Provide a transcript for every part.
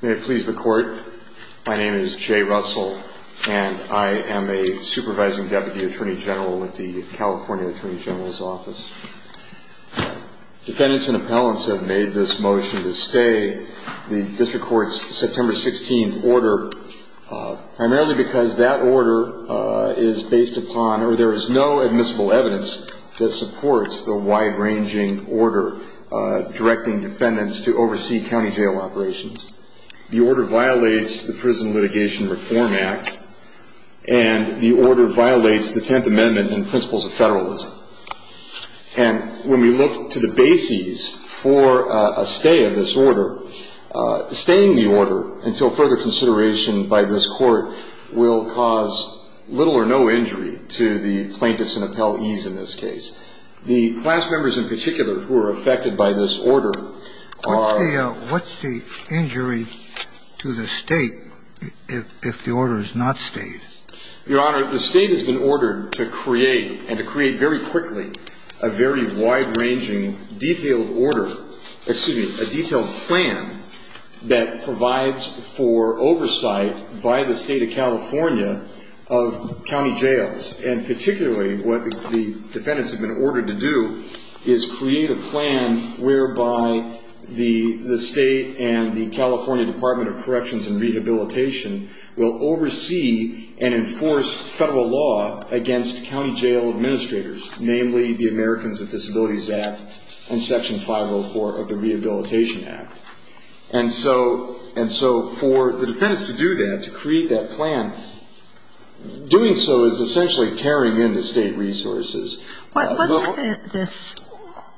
May it please the Court, my name is Jay Russell and I am a Supervising Deputy Attorney General at the California Attorney General's Office. Defendants and appellants have made this motion to stay the District Court's September 16th order primarily because that order is based upon, or there is no admissible evidence that supports the wide-ranging order directing defendants to oversee county jail operations. The order violates the Prison Litigation Reform Act and the order violates the Tenth Amendment and principles of federalism. And when we look to the bases for a stay of this order, staying the order until further consideration by this Court will cause little or no injury to the plaintiffs and appellees in this case. The class members in particular who are affected by this order are… What's the injury to the State if the order is not stayed? Your Honor, the State has been ordered to create, and to create very quickly, a very wide-ranging detailed order, excuse me, a detailed plan that provides for oversight by the State of California of county jails. And particularly what the defendants have been ordered to do is create a plan whereby the State and the California Department of Corrections and Rehabilitation will oversee and enforce federal law against county jail administrators, namely the Americans with Disabilities Act and Section 504 of the Rehabilitation Act. And so for the defendants to do that, to create that plan, doing so is essentially tearing into State resources. What's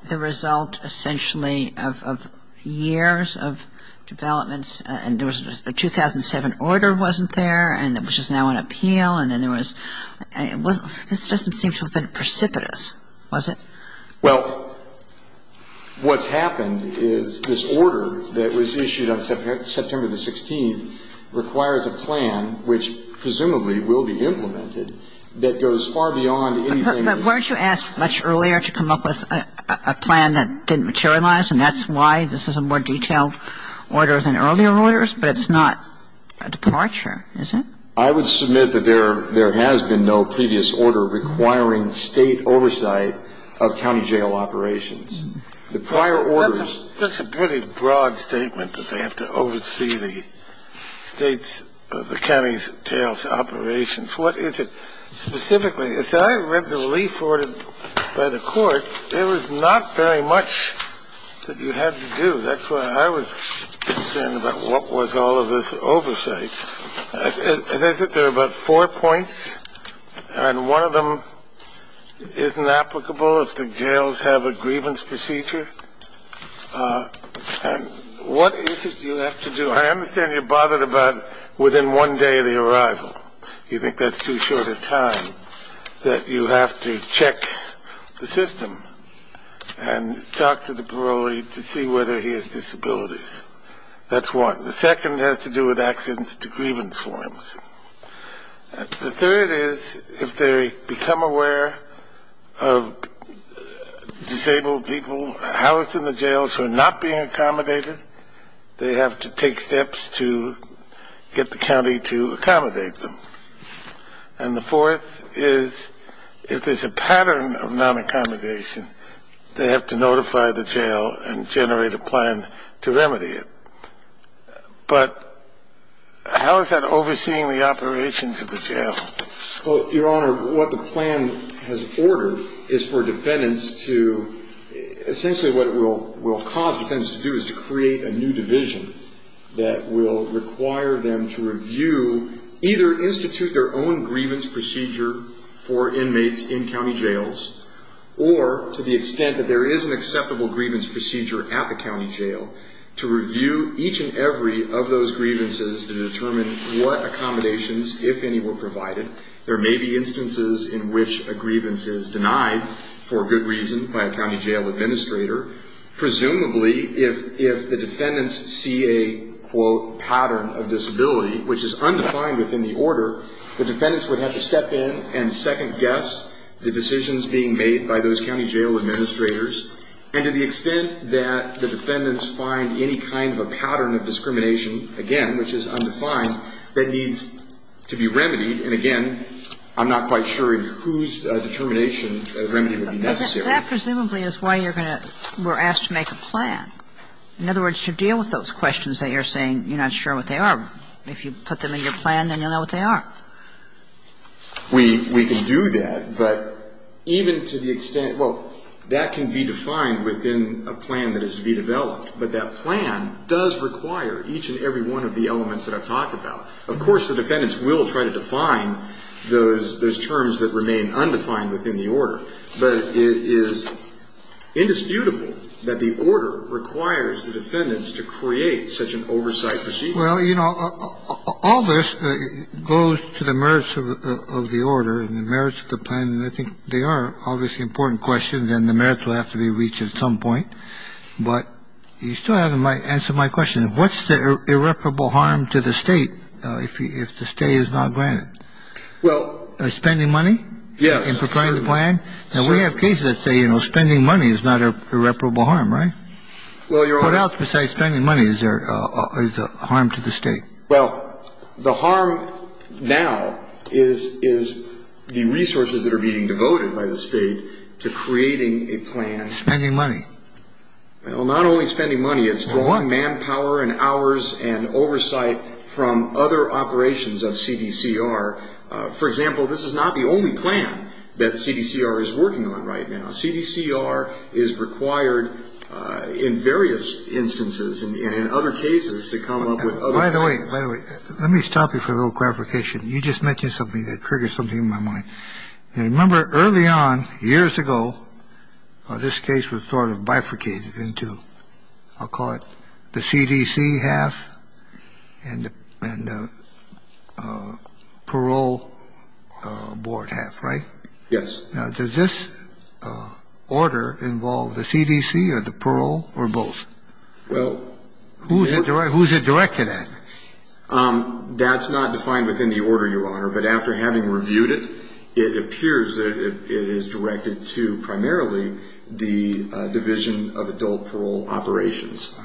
the result, essentially, of years of developments? And there was a 2007 order wasn't there, and it was just now on appeal, and then there was… This doesn't seem to have been precipitous, was it? Well, what's happened is this order that was issued on September the 16th requires a plan, which presumably will be implemented, that goes far beyond anything… But weren't you asked much earlier to come up with a plan that didn't materialize, and that's why this is a more detailed order than earlier orders? But it's not a departure, is it? I would submit that there has been no previous order requiring State oversight of county jail operations. The prior orders… That's a pretty broad statement that they have to oversee the State's… the county jail's operations. What is it specifically? As I read the relief ordered by the Court, there was not very much that you had to do. That's why I was concerned about what was all of this oversight. As I said, there are about four points, and one of them isn't applicable if the jails have a grievance procedure. And what is it you have to do? I understand you're bothered about within one day of the arrival. You think that's too short a time that you have to check the system and talk to the parolee to see whether he has disabilities. That's one. The second has to do with accidents to grievance forms. The third is if they become aware of disabled people housed in the jails who are not being accommodated, they have to take steps to get the county to accommodate them. And the fourth is if there's a pattern of non-accommodation, they have to notify the jail and generate a plan to remedy it. But how is that overseeing the operations of the jail? Well, Your Honor, what the plan has ordered is for defendants to… Essentially what it will cause defendants to do is to create a new division that will require them to review, either institute their own grievance procedure for inmates in county jails, or to the extent that there is an acceptable grievance procedure at the county jail, to review each and every of those grievances to determine what accommodations, if any, were provided. There may be instances in which a grievance is denied for good reason by a county jail administrator. Presumably, if the defendants see a, quote, pattern of disability, which is undefined within the order, the defendants would have to step in and second-guess the decisions being made by those county jail administrators. And to the extent that the defendants find any kind of a pattern of discrimination, again, which is undefined, that needs to be remedied. And, again, I'm not quite sure whose determination of remedy would be necessary. That presumably is why you're going to… we're asked to make a plan. In other words, to deal with those questions that you're saying you're not sure what they are. If you put them in your plan, then you'll know what they are. We can do that. But even to the extent… well, that can be defined within a plan that is to be developed. But that plan does require each and every one of the elements that I've talked about. Of course, the defendants will try to define those terms that remain undefined within the order. But it is indisputable that the order requires the defendants to create such an oversight procedure. Well, you know, all this goes to the merits of the order and the merits of the plan. And I think they are obviously important questions, and the merits will have to be reached at some point. But you still haven't answered my question. What's the irreparable harm to the State if the State is not granted? Well… Spending money? Yes. In preparing the plan? And we have cases that say, you know, spending money is not an irreparable harm, right? Well, Your Honor… What else besides spending money is a harm to the State? Well, the harm now is the resources that are being devoted by the State to creating a plan… Well, not only spending money, it's drawing manpower and hours and oversight from other operations of CDCR. For example, this is not the only plan that CDCR is working on right now. CDCR is required in various instances and in other cases to come up with… By the way, by the way, let me stop you for a little clarification. You just mentioned something that triggered something in my mind. Remember, early on, years ago, this case was sort of bifurcated into, I'll call it, the CDC half and the parole board half, right? Yes. Now, does this order involve the CDC or the parole or both? Well… Who is it directed at? That's not defined within the order, Your Honor. But after having reviewed it, it appears that it is directed to primarily the division of adult parole operations,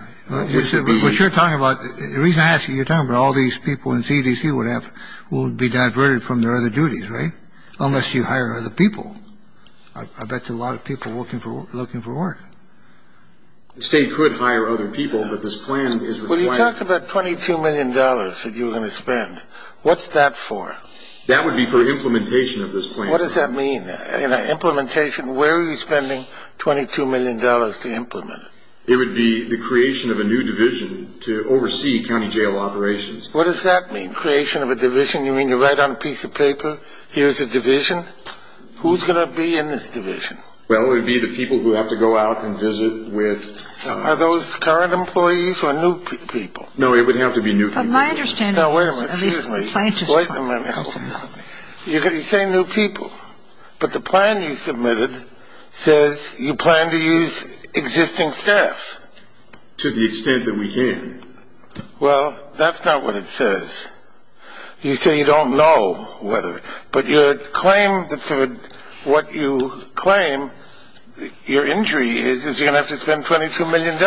which would be… What you're talking about, the reason I ask you, you're talking about all these people in CDC would be diverted from their other duties, right? Unless you hire other people. I bet there are a lot of people looking for work. The State could hire other people, but this plan is required… Well, you talked about $22 million that you were going to spend. What's that for? That would be for implementation of this plan. What does that mean, implementation? Where are you spending $22 million to implement it? It would be the creation of a new division to oversee county jail operations. What does that mean, creation of a division? You mean to write on a piece of paper, here's a division? Who's going to be in this division? Well, it would be the people who have to go out and visit with… Are those current employees or new people? No, it would have to be new people. No, wait a minute, seriously. At least scientists… You say new people, but the plan you submitted says you plan to use existing staff. To the extent that we can. Well, that's not what it says. You say you don't know whether… But your claim, what you claim your injury is, is you're going to have to spend $22 million.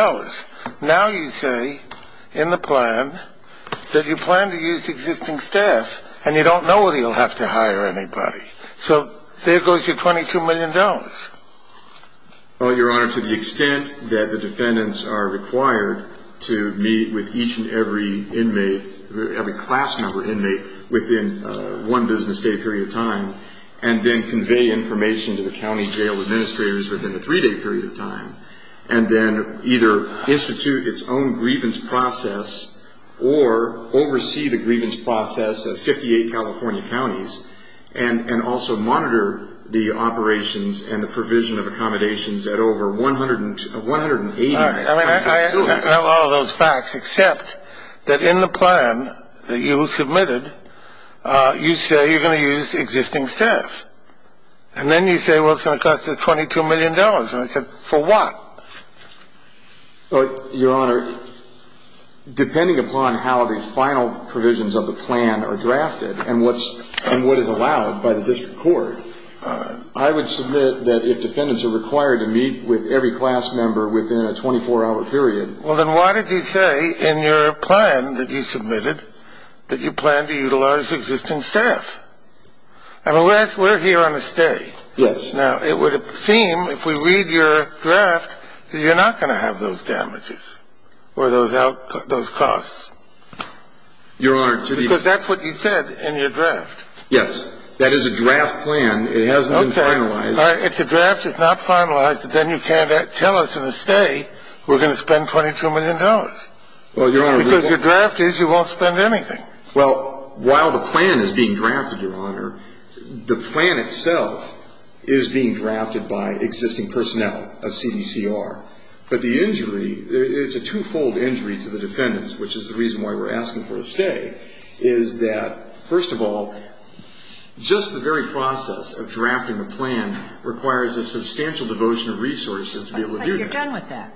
Now you say in the plan that you plan to use existing staff, and you don't know whether you'll have to hire anybody. So there goes your $22 million. Well, Your Honor, to the extent that the defendants are required to meet with each and every inmate, every class member inmate, within one business day period of time, and then convey information to the county jail administrators within a three-day period of time, and then either institute its own grievance process or oversee the grievance process of 58 California counties, and also monitor the operations and the provision of accommodations at over 180 counties. I mean, I have all of those facts, except that in the plan that you submitted, you say you're going to use existing staff. And then you say, well, it's going to cost us $22 million. And I said, for what? Well, Your Honor, depending upon how the final provisions of the plan are drafted and what is allowed by the district court, I would submit that if defendants are required to meet with every class member within a 24-hour period. Well, then why did you say in your plan that you submitted that you plan to utilize existing staff? I mean, we're here on a stay. Yes. Now, it would seem, if we read your draft, that you're not going to have those damages or those costs. Your Honor, to the extent that That's what you said in your draft. Yes. That is a draft plan. It hasn't been finalized. Okay. If the draft is not finalized, then you can't tell us in a stay we're going to spend $22 million. Because your draft is you won't spend anything. Well, while the plan is being drafted, Your Honor, the plan itself is being drafted by existing personnel of CDCR. But the injury, it's a two-fold injury to the defendants, which is the reason why we're asking for a stay, is that, first of all, just the very process of drafting the plan requires a substantial devotion of resources to be able to do that. But you're done with that.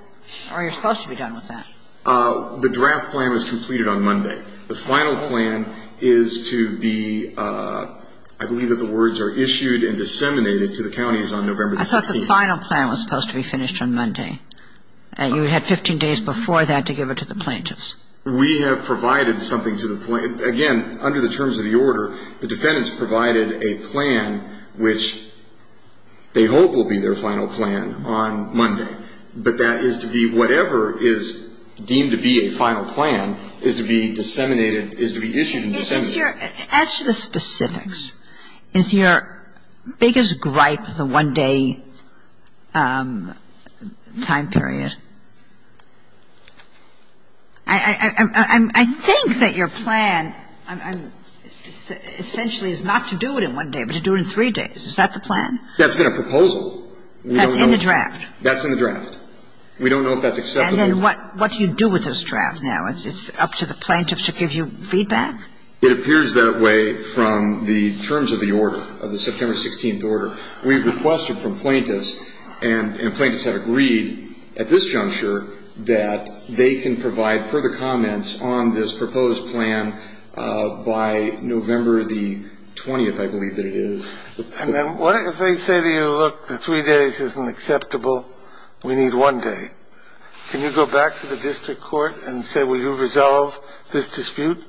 Or you're supposed to be done with that. The draft plan was completed on Monday. The final plan is to be, I believe that the words are issued and disseminated to the counties on November the 16th. I thought the final plan was supposed to be finished on Monday. You had 15 days before that to give it to the plaintiffs. We have provided something to the plaintiffs. Again, under the terms of the order, the defendants provided a plan which they hope will be their final plan on Monday. But that is to be whatever is deemed to be a final plan is to be disseminated, is to be issued and disseminated. As to the specifics, is your biggest gripe the one-day time period? I think that your plan essentially is not to do it in one day, but to do it in three days. Is that the plan? That's been a proposal. That's in the draft. That's in the draft. We don't know if that's acceptable. And then what do you do with this draft now? It's up to the plaintiffs to give you feedback? It appears that way from the terms of the order, of the September 16th order. We've requested from plaintiffs, and plaintiffs have agreed at this juncture that they can provide further comments on this proposed plan by November the 20th, I believe that it is. And then what if they say to you, look, the three days isn't acceptable. We need one day. Can you go back to the district court and say, will you resolve this dispute?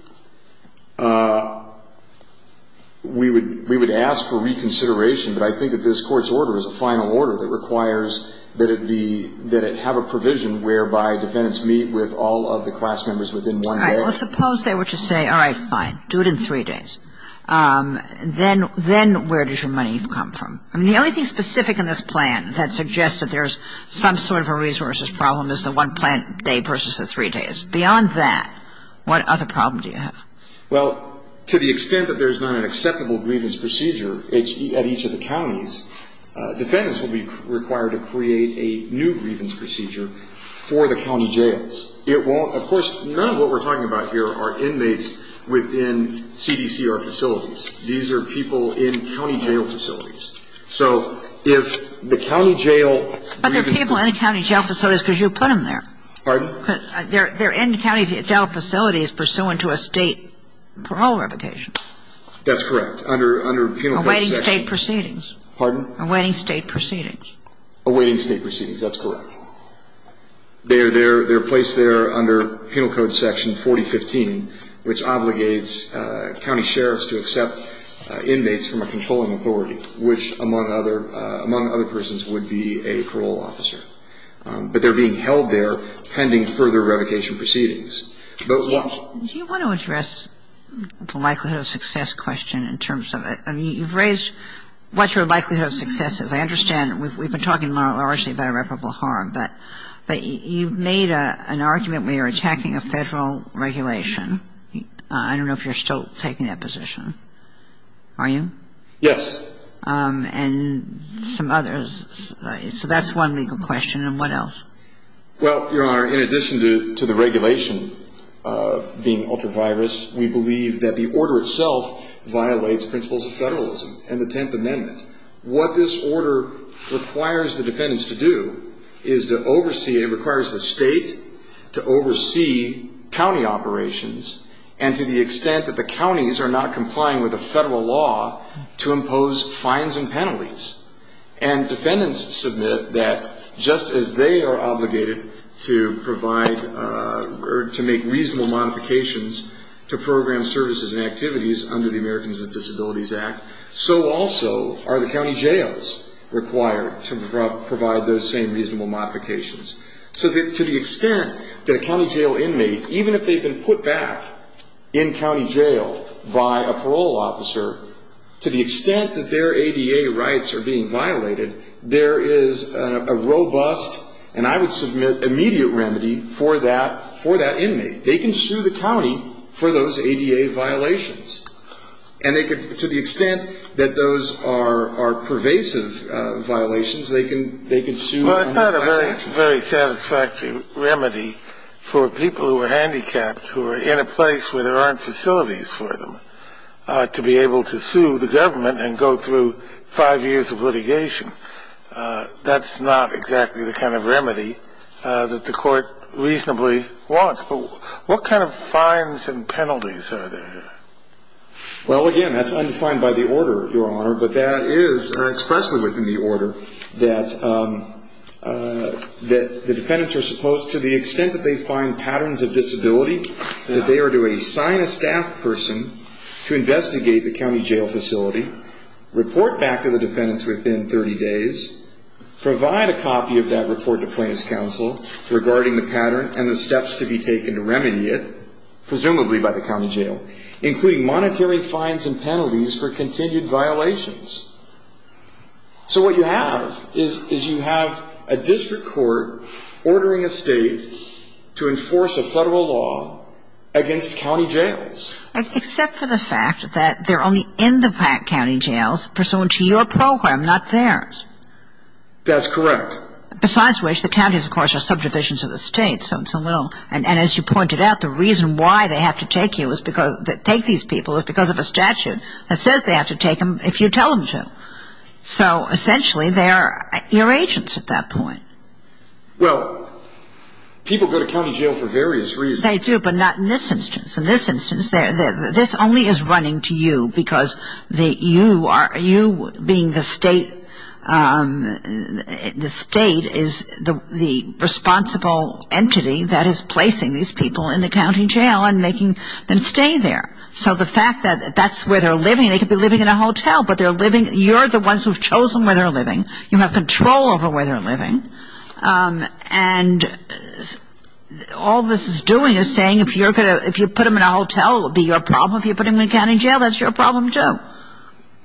We would ask for reconsideration, but I think that this Court's order is a final order that requires that it be, that it have a provision whereby defendants meet with all of the class members within one day. All right. Well, suppose they were to say, all right, fine, do it in three days. Then where does your money come from? I mean, the only thing specific in this plan that suggests that there's some sort of a resources problem is the one-plan day versus the three days. Beyond that, what other problem do you have? Well, to the extent that there's not an acceptable grievance procedure at each of the counties, defendants will be required to create a new grievance procedure for the county jails. It won't, of course, none of what we're talking about here are inmates within CDCR facilities. These are people in county jail facilities. So if the county jail grievance procedure was to be created for the county jail facilities, that would be a new grievance procedure. But there are people in the county jail facilities because you put them there. Pardon? Because they're in county jail facilities pursuant to a State parole revocation. That's correct. Under penal code section. Awaiting State proceedings. Pardon? Awaiting State proceedings. Awaiting State proceedings. That's correct. They're placed there under penal code section 4015, which obligates county sheriffs to accept inmates from a controlling authority, which, among other persons, would be a parole officer. But they're being held there pending further revocation proceedings. Do you want to address the likelihood of success question in terms of it? I mean, you've raised what your likelihood of success is. I understand we've been talking largely about irreparable harm, but you've made an argument where you're attacking a Federal regulation. I don't know if you're still taking that position. Are you? Yes. And some others. So that's one legal question. And what else? Well, Your Honor, in addition to the regulation being ultra-virus, we believe that the order itself violates principles of Federalism and the Tenth Amendment. What this order requires the defendants to do is to oversee and requires the State to oversee county operations and to the extent that the counties are not complying with the Federal law to impose fines and penalties. And defendants submit that just as they are obligated to provide or to make reasonable modifications to program services and activities under the Americans with Disabilities Act, so also are the county jails required to provide those same reasonable modifications. So to the extent that a county jail inmate, even if they've been put back in county jail by a parole officer, to the extent that their ADA rights are being violated, there is a robust and I would submit immediate remedy for that inmate. They can sue the county for those ADA violations. And they could, to the extent that those are pervasive violations, they can sue. Well, it's not a very satisfactory remedy for people who are handicapped, who are in a place where there aren't facilities for them, to be able to sue the government and go through five years of litigation. That's not exactly the kind of remedy that the Court reasonably wants. But what kind of fines and penalties are there? Well, again, that's undefined by the order, Your Honor, but that is expressly within the order that the defendants are supposed, to the extent that they find patterns of disability, that they are to assign a staff person to investigate the county jail facility, report back to the defendants within 30 days, provide a copy of that report to plaintiff's counsel regarding the pattern and the steps to be taken to remedy it, presumably by the county jail, including monetary fines and penalties for continued violations. So what you have is you have a district court ordering a state to enforce a federal law against county jails. Except for the fact that they're only in the county jails, pursuant to your program, not theirs. That's correct. Besides which, the counties, of course, are subdivisions of the state, so and so. And as you pointed out, the reason why they have to take these people is because of a statute that says they have to take them if you tell them to. So essentially they are irregents at that point. Well, people go to county jail for various reasons. They do, but not in this instance. In this instance, this only is running to you because you being the state is the responsible entity that is placing these people in the county jail and making them stay there. So the fact that that's where they're living, they could be living in a hotel, but you're the ones who have chosen where they're living. You have control over where they're living. And all this is doing is saying if you put them in a hotel, it will be your problem. If you put them in a county jail, that's your problem, too.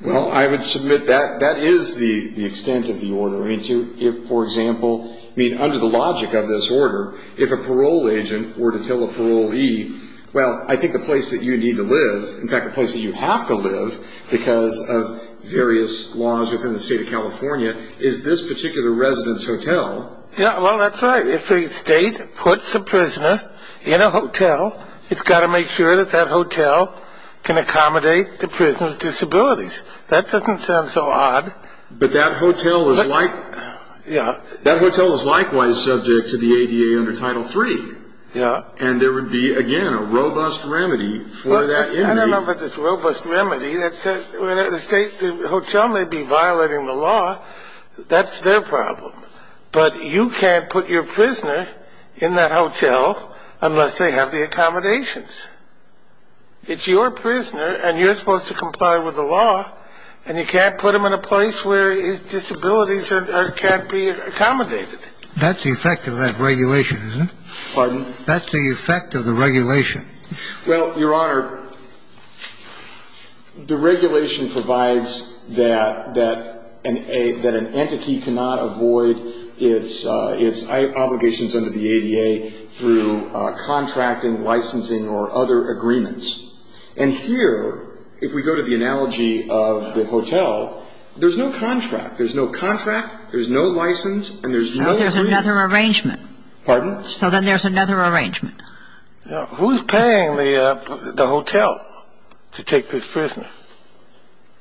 Well, I would submit that that is the extent of the order. I mean, for example, I mean, under the logic of this order, if a parole agent were to tell a parolee, well, I think the place that you need to live, in fact the place that you have to live because of various laws within the state of California, is this particular resident's hotel. Yeah, well, that's right. But if the state puts a prisoner in a hotel, it's got to make sure that that hotel can accommodate the prisoner's disabilities. That doesn't sound so odd. But that hotel is likewise subject to the ADA under Title III. Yeah. And there would be, again, a robust remedy for that. I don't know about this robust remedy. The hotel may be violating the law. That's their problem. But you can't put your prisoner in that hotel unless they have the accommodations. It's your prisoner, and you're supposed to comply with the law, and you can't put them in a place where his disabilities can't be accommodated. That's the effect of that regulation, isn't it? Pardon? That's the effect of the regulation. Well, Your Honor, the regulation provides that an entity cannot avoid its obligations under the ADA through contracting, licensing, or other agreements. And here, if we go to the analogy of the hotel, there's no contract. There's no contract, there's no license, and there's no agreement. But there's another arrangement. Pardon? So then there's another arrangement. Who's paying the hotel to take this prisoner?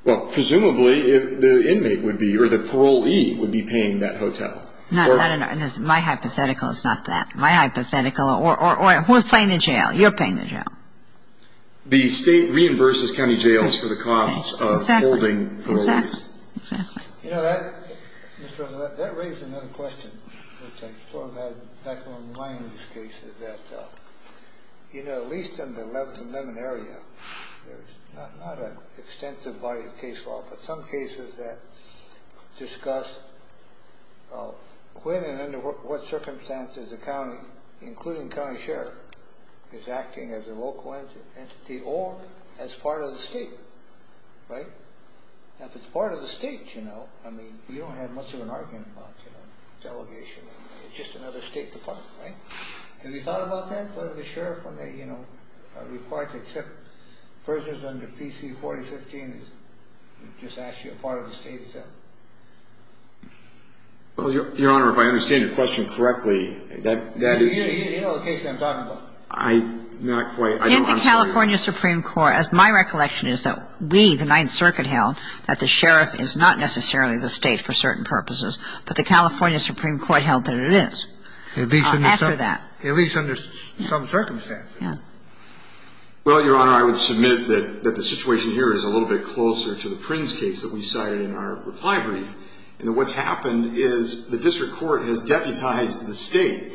Well, presumably, the inmate would be, or the parolee would be paying that hotel. No, no, no. My hypothetical is not that. My hypothetical, or who's paying the jail? You're paying the jail. The State reimburses county jails for the costs of holding parolees. Exactly. Exactly. You know, that raises another question, which I sort of had back in my mind in this case, is that, you know, at least in the 11th and Lemon area, there's not an extensive body of case law, but some cases that discuss when and under what circumstances a county, including county sheriff, is acting as a local entity or as part of the State, right? If it's part of the State, you know, I mean, you don't have much of an argument about delegation. It's just another State department, right? Have you thought about that, whether the sheriff, when they, you know, are required to accept prisoners under PC 4015 is just actually a part of the State itself? Well, Your Honor, if I understand your question correctly, that is... You know the case that I'm talking about. I'm not quite... In the California Supreme Court, my recollection is that we, the Ninth Circuit, held that the sheriff is not necessarily the State for certain purposes, but the California Supreme Court held that it is after that. At least under some circumstances. Yeah. Well, Your Honor, I would submit that the situation here is a little bit closer to the Prins case that we cited in our reply brief. And what's happened is the district court has deputized the State.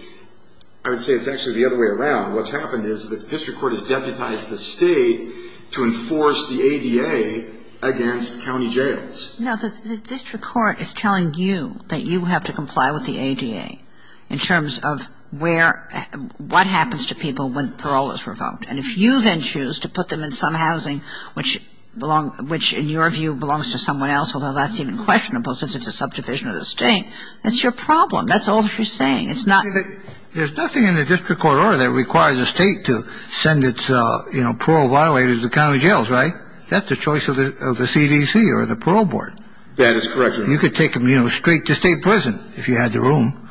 I would say it's actually the other way around. What's happened is the district court has deputized the State to enforce the ADA against county jails. No, the district court is telling you that you have to comply with the ADA in terms of where, what happens to people when parole is revoked. And if you then choose to put them in some housing, which in your view belongs to someone else, although that's even questionable since it's a subdivision of the State, that's your problem. That's all she's saying. There's nothing in the district court order that requires the State to send its, you know, parole violators to county jails, right? That's the choice of the CDC or the Parole Board. That is correct, Your Honor. You could take them, you know, straight to state prison if you had the room.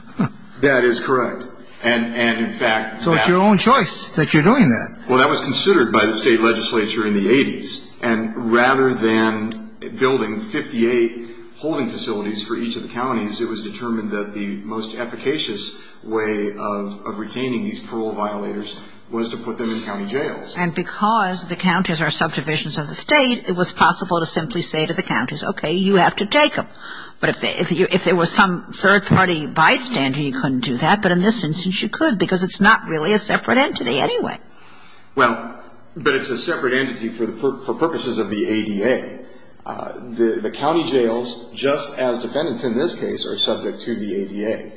That is correct. And in fact, that's. So it's your own choice that you're doing that. Well, that was considered by the State legislature in the 80s. And rather than building 58 holding facilities for each of the counties, it was determined that the most efficacious way of retaining these parole violators was to put them in county jails. And because the counties are subdivisions of the State, it was possible to simply say to the counties, okay, you have to take them. But if there was some third-party bystander, you couldn't do that. But in this instance, you could because it's not really a separate entity anyway. Well, but it's a separate entity for purposes of the ADA. The county jails, just as defendants in this case, are subject to the ADA.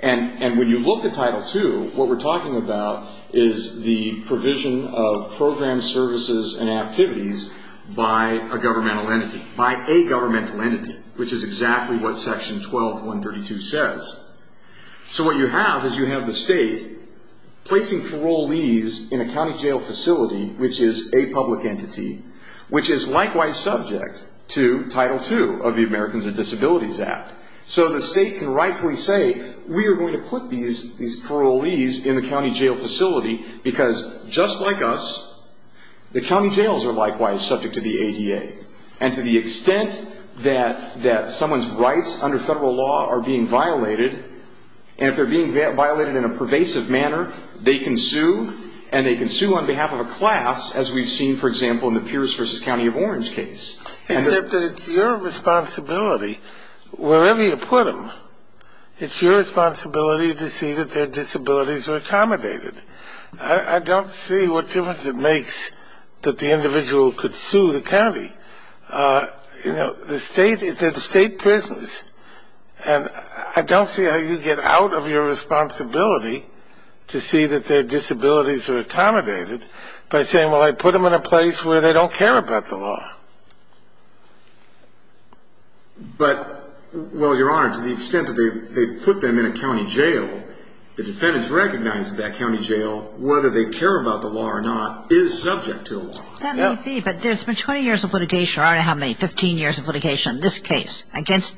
And when you look at Title II, what we're talking about is the provision of programs, services, and activities by a governmental entity, by a governmental entity, which is exactly what Section 12-132 says. So what you have is you have the State placing parolees in a county jail facility, which is a public entity, which is likewise subject to Title II of the Americans with Disabilities Act. So the State can rightfully say, we are going to put these parolees in the county jail facility because just like us, the county jails are likewise subject to the ADA. And to the extent that someone's rights under federal law are being violated, and if they're being violated in a pervasive manner, they can sue, and they can sue on behalf of a class, as we've seen, for example, in the Pierce v. County of Orange case. Except that it's your responsibility, wherever you put them, it's your responsibility to see that their disabilities are accommodated. I don't see what difference it makes that the individual could sue the county. You know, the State, they're the State prisons, and I don't see how you get out of your responsibility to see that their disabilities are accommodated by saying, well, I put them in a place where they don't care about the law. But, well, Your Honor, to the extent that they've put them in a county jail, the defendants recognize that that county jail, whether they care about the law or not, is subject to the law. That may be, but there's been 20 years of litigation, or I don't know how many, 15 years of litigation on this case against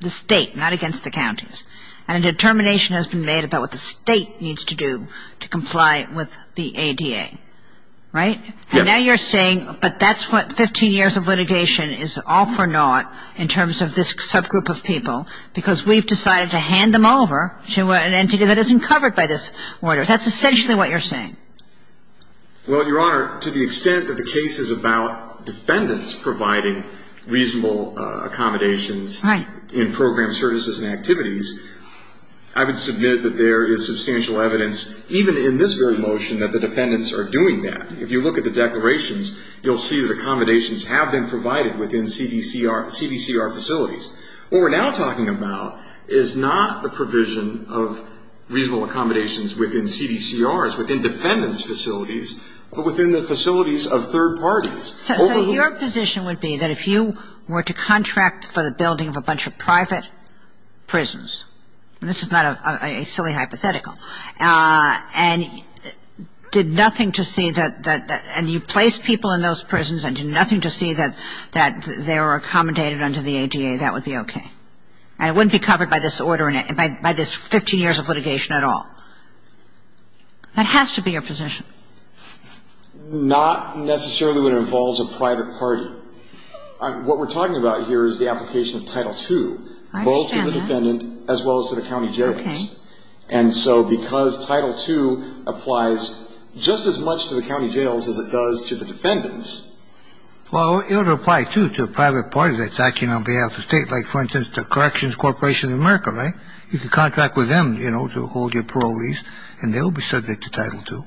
the State, not against the counties, and a determination has been made about what the State needs to do to comply with the ADA, right? Yes. And now you're saying, but that's what 15 years of litigation is all for naught in terms of this subgroup of people, because we've decided to hand them over to an entity that isn't covered by this order. That's essentially what you're saying. Well, Your Honor, to the extent that the case is about defendants providing reasonable accommodations in program services and activities, I would submit that there is substantial evidence, even in this very motion, that the defendants are doing that. If you look at the declarations, you'll see that accommodations have been provided within CDCR facilities. What we're now talking about is not the provision of reasonable accommodations within CDCRs, within defendants' facilities, but within the facilities of third parties. So your position would be that if you were to contract for the building of a bunch of private prisons, and this is not a silly hypothetical, and did nothing to see that, and you placed people in those prisons and did nothing to see that they were accommodated under the ADA, that would be okay. And it wouldn't be covered by this order, by this 15 years of litigation at all. That has to be your position. Not necessarily when it involves a private party. What we're talking about here is the application of Title II. I understand that. Both to the defendant as well as to the county jails. Okay. And so because Title II applies just as much to the county jails as it does to the defendants. Well, it would apply, too, to a private party that's acting on behalf of the State. Like, for instance, the Corrections Corporation of America, right? You can contract with them, you know, to hold your parolees, and they'll be subject to Title II.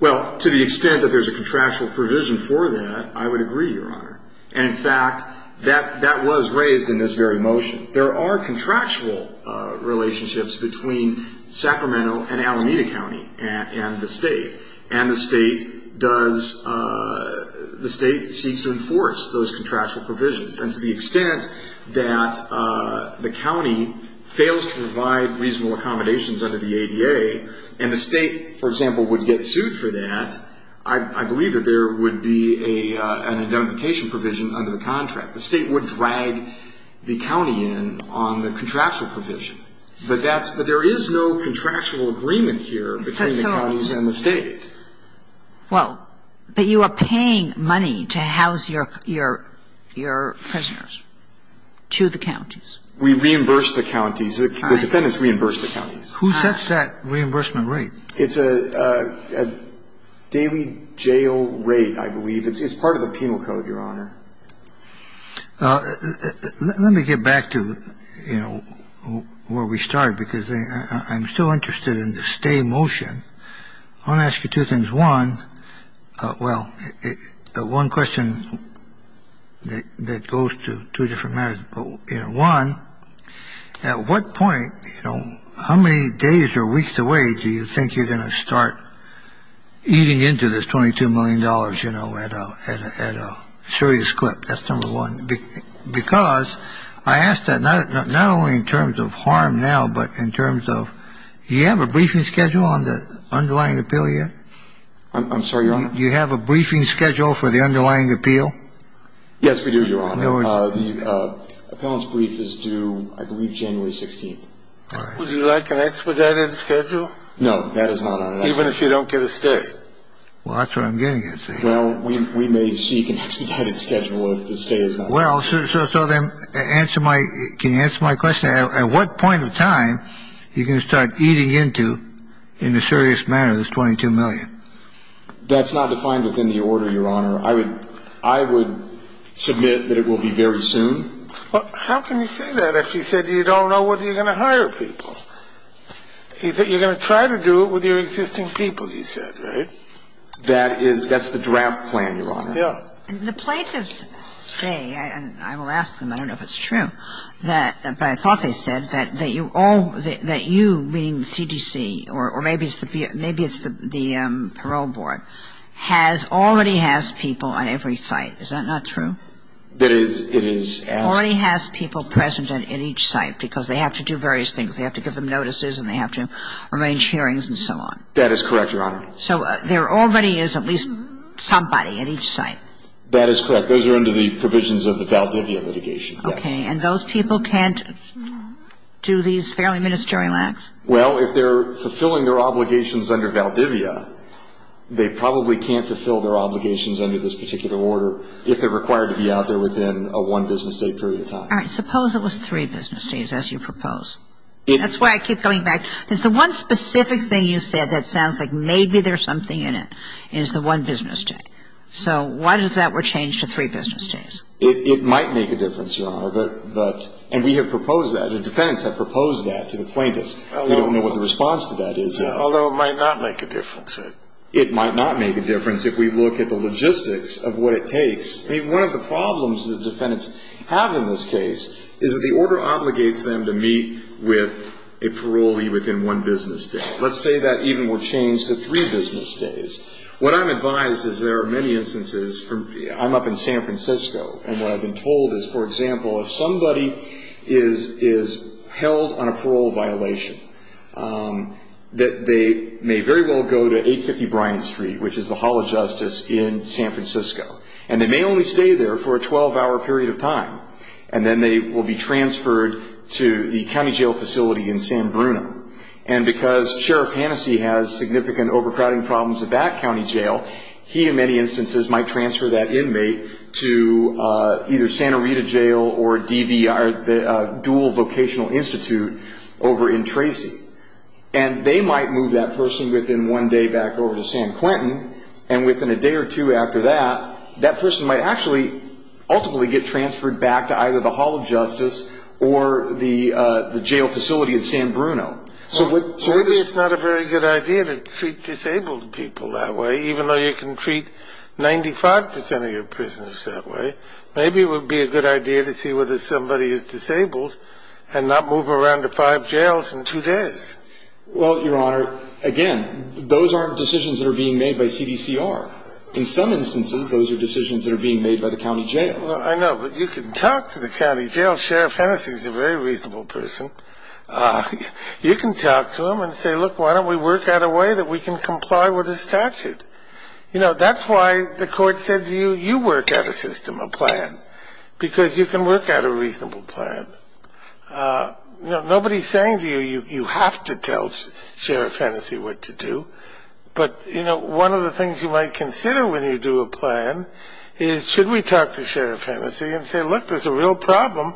Well, to the extent that there's a contractual provision for that, I would agree, Your Honor. And, in fact, that was raised in this very motion. There are contractual relationships between Sacramento and Alameda County and the State, and the State does the State seeks to enforce those contractual provisions. And to the extent that the county fails to provide reasonable accommodations under the ADA, and the State, for example, would get sued for that, I believe that there would be an identification provision under the contract. The State would drag the county in on the contractual provision. But that's – but there is no contractual agreement here between the counties and the State. Well, but you are paying money to house your prisoners to the counties. We reimburse the counties. The defendants reimburse the counties. Who sets that reimbursement rate? It's a daily jail rate, I believe. It's part of the penal code, Your Honor. Let me get back to, you know, where we started, because I'm still interested in the stay motion. I want to ask you two things. One, well, one question that goes to two different matters. One, at what point, you know, how many days or weeks away do you think you're going to start eating into this $22 million, you know, at a serious clip? That's number one, because I ask that not only in terms of harm now, but in terms of – do you have a briefing schedule on the underlying appeal yet? I'm sorry, Your Honor? Do you have a briefing schedule for the underlying appeal? Yes, we do, Your Honor. The appellant's brief is due, I believe, January 16th. All right. Would you like an expedited schedule? No, that is not on it. Even if you don't get a stay? Well, that's what I'm getting at. Well, we may seek an expedited schedule if the stay is not due. Well, so then answer my – can you answer my question? At what point of time are you going to start eating into, in a serious manner, this $22 million? That's not defined within the order, Your Honor. I would submit that it will be very soon. How can you say that if you said you don't know whether you're going to hire people? You're going to try to do it with your existing people, you said, right? That is – that's the draft plan, Your Honor. Yeah. The plaintiffs say, and I will ask them, I don't know if it's true, but I thought they said that you all – that you, meaning the CDC, or maybe it's the parole board, has – already has people on every site. Is that not true? It is. It is. Already has people present at each site because they have to do various things. They have to give them notices and they have to arrange hearings and so on. That is correct, Your Honor. So there already is at least somebody at each site? That is correct. Those are under the provisions of the Valdivia litigation, yes. Okay. And those people can't do these fairly ministerial acts? Well, if they're fulfilling their obligations under Valdivia, they probably can't fulfill their obligations under this particular order if they're required to be out there within a one-business-day period of time. All right. Suppose it was three business days, as you propose. That's why I keep coming back. Because the one specific thing you said that sounds like maybe there's something in it is the one business day. So why does that change to three business days? It might make a difference, Your Honor, but – and we have proposed that. The defendants have proposed that to the plaintiffs. I don't know what the response to that is. Although it might not make a difference. It might not make a difference if we look at the logistics of what it takes. I mean, one of the problems the defendants have in this case is that the order obligates them to meet with a parolee within one business day. Let's say that even were changed to three business days. What I'm advised is there are many instances from – I'm up in San Francisco, and what I've been told is, for example, if somebody is held on a parole violation, that they may very well go to 850 Bryant Street, which is the Hall of Justice in San Francisco. And they may only stay there for a 12-hour period of time. And then they will be transferred to the county jail facility in San Bruno. And because Sheriff Hannessy has significant overcrowding problems at that county jail, he in many instances might transfer that inmate to either Santa Rita Jail or DVR, the Dual Vocational Institute, over in Tracy. And they might move that person within one day back over to San Quentin, and within a day or two after that, that person might actually ultimately get transferred back to either the Hall of Justice or the jail facility in San Bruno. So maybe it's not a very good idea to treat disabled people that way, even though you can treat 95% of your prisoners that way. Maybe it would be a good idea to see whether somebody is disabled and not move them around to five jails in two days. Well, Your Honor, again, those aren't decisions that are being made by CDCR. In some instances, those are decisions that are being made by the county jail. Well, I know, but you can talk to the county jail. Sheriff Hannessy is a very reasonable person. You can talk to him and say, look, why don't we work out a way that we can comply with his statute. You know, that's why the court said to you, you work out a system, a plan, because you can work out a reasonable plan. Nobody is saying to you, you have to tell Sheriff Hannessy what to do. But, you know, one of the things you might consider when you do a plan is, should we talk to Sheriff Hannessy and say, look, there's a real problem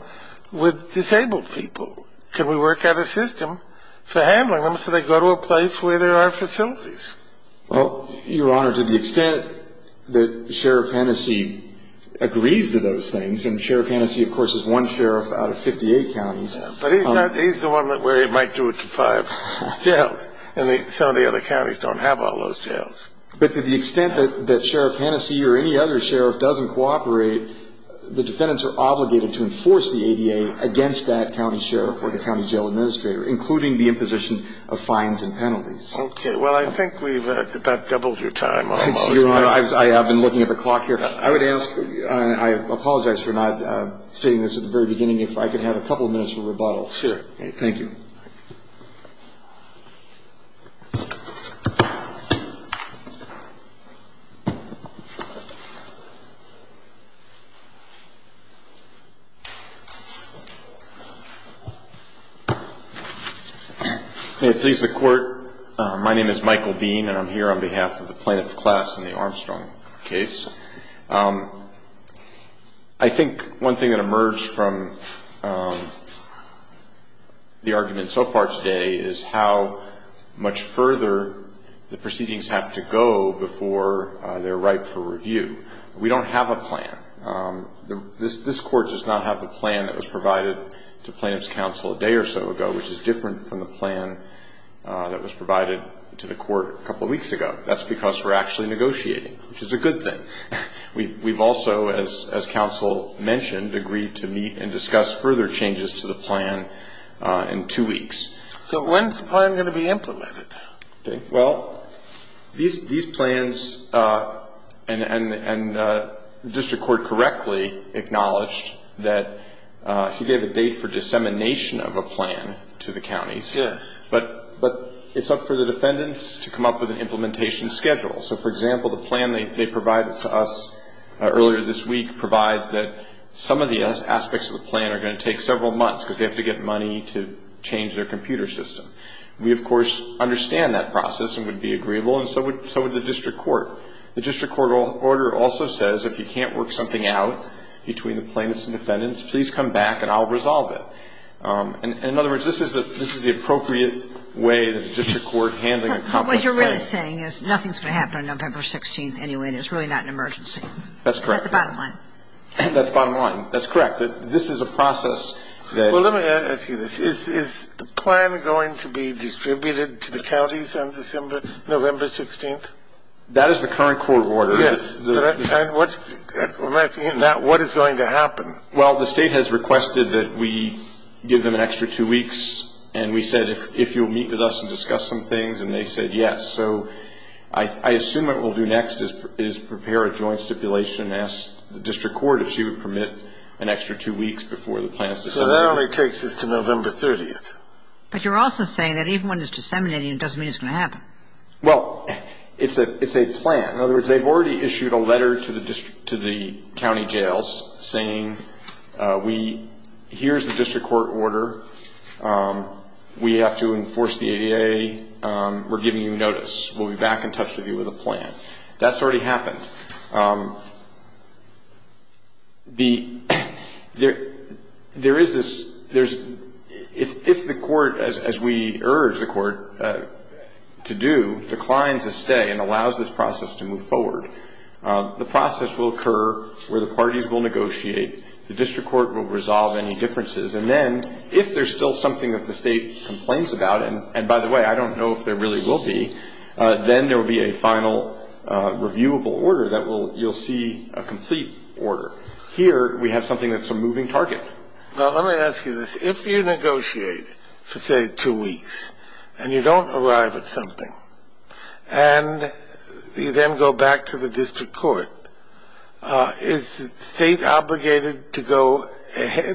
with disabled people. Can we work out a system for handling them so they go to a place where there are facilities? Well, Your Honor, to the extent that Sheriff Hannessy agrees to those things, and Sheriff Hannessy, of course, is one sheriff out of 58 counties. But he's the one where he might do it to five jails, and some of the other counties don't have all those jails. But to the extent that Sheriff Hannessy or any other sheriff doesn't cooperate, the defendants are obligated to enforce the ADA against that county sheriff or the county jail administrator, including the imposition of fines and penalties. Okay. Well, I think we've about doubled your time almost. Your Honor, I have been looking at the clock here. I would ask, and I apologize for not stating this at the very beginning, if I could have a couple minutes of rebuttal. Thank you. Please be seated. May it please the Court, my name is Michael Bean, and I'm here on behalf of the plaintiff's class in the Armstrong case. I think one thing that emerged from the argument so far today is how much further the proceedings have to go before they're ripe for review. We don't have a plan. This Court does not have the plan that was provided to plaintiff's counsel a day or so ago, which is different from the plan that was provided to the Court a couple weeks ago. That's because we're actually negotiating, which is a good thing. We've also, as counsel mentioned, agreed to meet and discuss further changes to the plan in two weeks. So when's the plan going to be implemented? Okay. Well, these plans, and the district court correctly acknowledged that, see, they have a date for dissemination of a plan to the counties. Sure. But it's up for the defendants to come up with an implementation schedule. So, for example, the plan they provided to us earlier this week provides that some of the aspects of the plan are going to take several months because they have to get money to change their computer system. We, of course, understand that process and would be agreeable, and so would the district court. The district court order also says if you can't work something out between the plaintiffs and defendants, please come back and I'll resolve it. And, in other words, this is the appropriate way that the district court handling a complex case. What you're really saying is nothing's going to happen on November 16th anyway, and it's really not an emergency. That's correct. That's the bottom line. That's the bottom line. That's correct. This is a process that... Well, let me ask you this. Is the plan going to be distributed to the counties on November 16th? That is the current court order. Yes. What's... I'm asking you now what is going to happen. Well, the State has requested that we give them an extra two weeks, and we said, if you'll meet with us and discuss some things, and they said yes. So I assume what we'll do next is prepare a joint stipulation and ask the district court if she would permit an extra two weeks before the plan is disseminated. So that only takes us to November 30th. But you're also saying that even when it's disseminating, it doesn't mean it's going to happen. Well, it's a plan. In other words, they've already issued a letter to the district to the county jails saying, here's the district court order. We have to enforce the ADA. We're giving you notice. We'll be back in touch with you with a plan. That's already happened. There is this... If the court, as we urge the court to do, declines a stay and allows this process to move forward, the process will occur where the parties will negotiate. The district court will resolve any differences. And then, if there's still something that the state complains about, and, by the way, I don't know if there really will be, then there will be a final reviewable order that you'll see a complete order. Here, we have something that's a moving target. Now, let me ask you this. If you negotiate for, say, two weeks, and you don't arrive at something, and you then go back to the district court, is the state obligated to go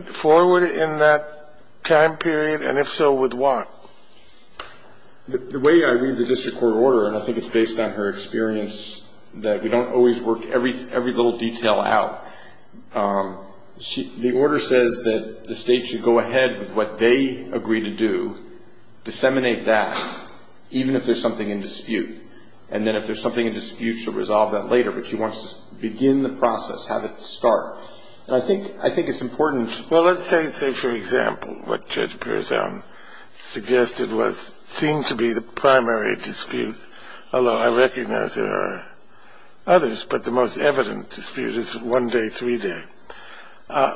forward in that time period, and if so, with what? The way I read the district court order, and I think it's based on her experience, that we don't always work every little detail out. The order says that the state should go ahead with what they agree to do, disseminate that, even if there's something in dispute. And then, if there's something in dispute, she'll resolve that later. But she wants to begin the process, have it start. And I think it's important. Well, let's say, for example, what Judge Perezowne suggested was seen to be the primary dispute, although I recognize there are others, but the most evident dispute is one day, three day.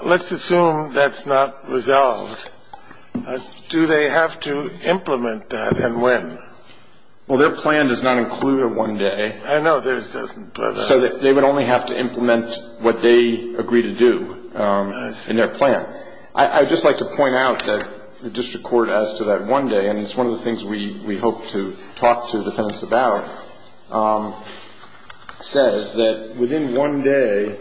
Let's assume that's not resolved. Do they have to implement that, and when? Well, their plan does not include a one day. I know. So they would only have to implement what they agree to do in their plan. I would just like to point out that the district court as to that one day, and it's one of the things we hope to talk to the defense about, says that within one day,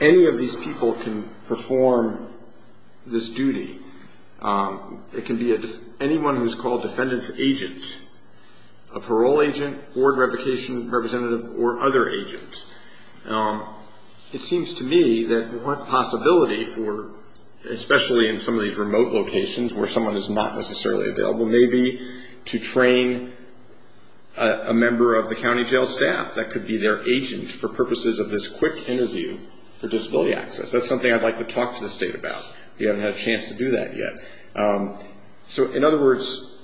any of these people can perform this duty. It can be anyone who's called defendant's agent, a parole agent, board representative, or other agent. It seems to me that one possibility, especially in some of these remote locations where someone is not necessarily available, may be to train a member of the county jail staff that could be their agent for purposes of this quick interview for disability access. That's something I'd like to talk to the state about. We haven't had a chance to do that yet. So in other words,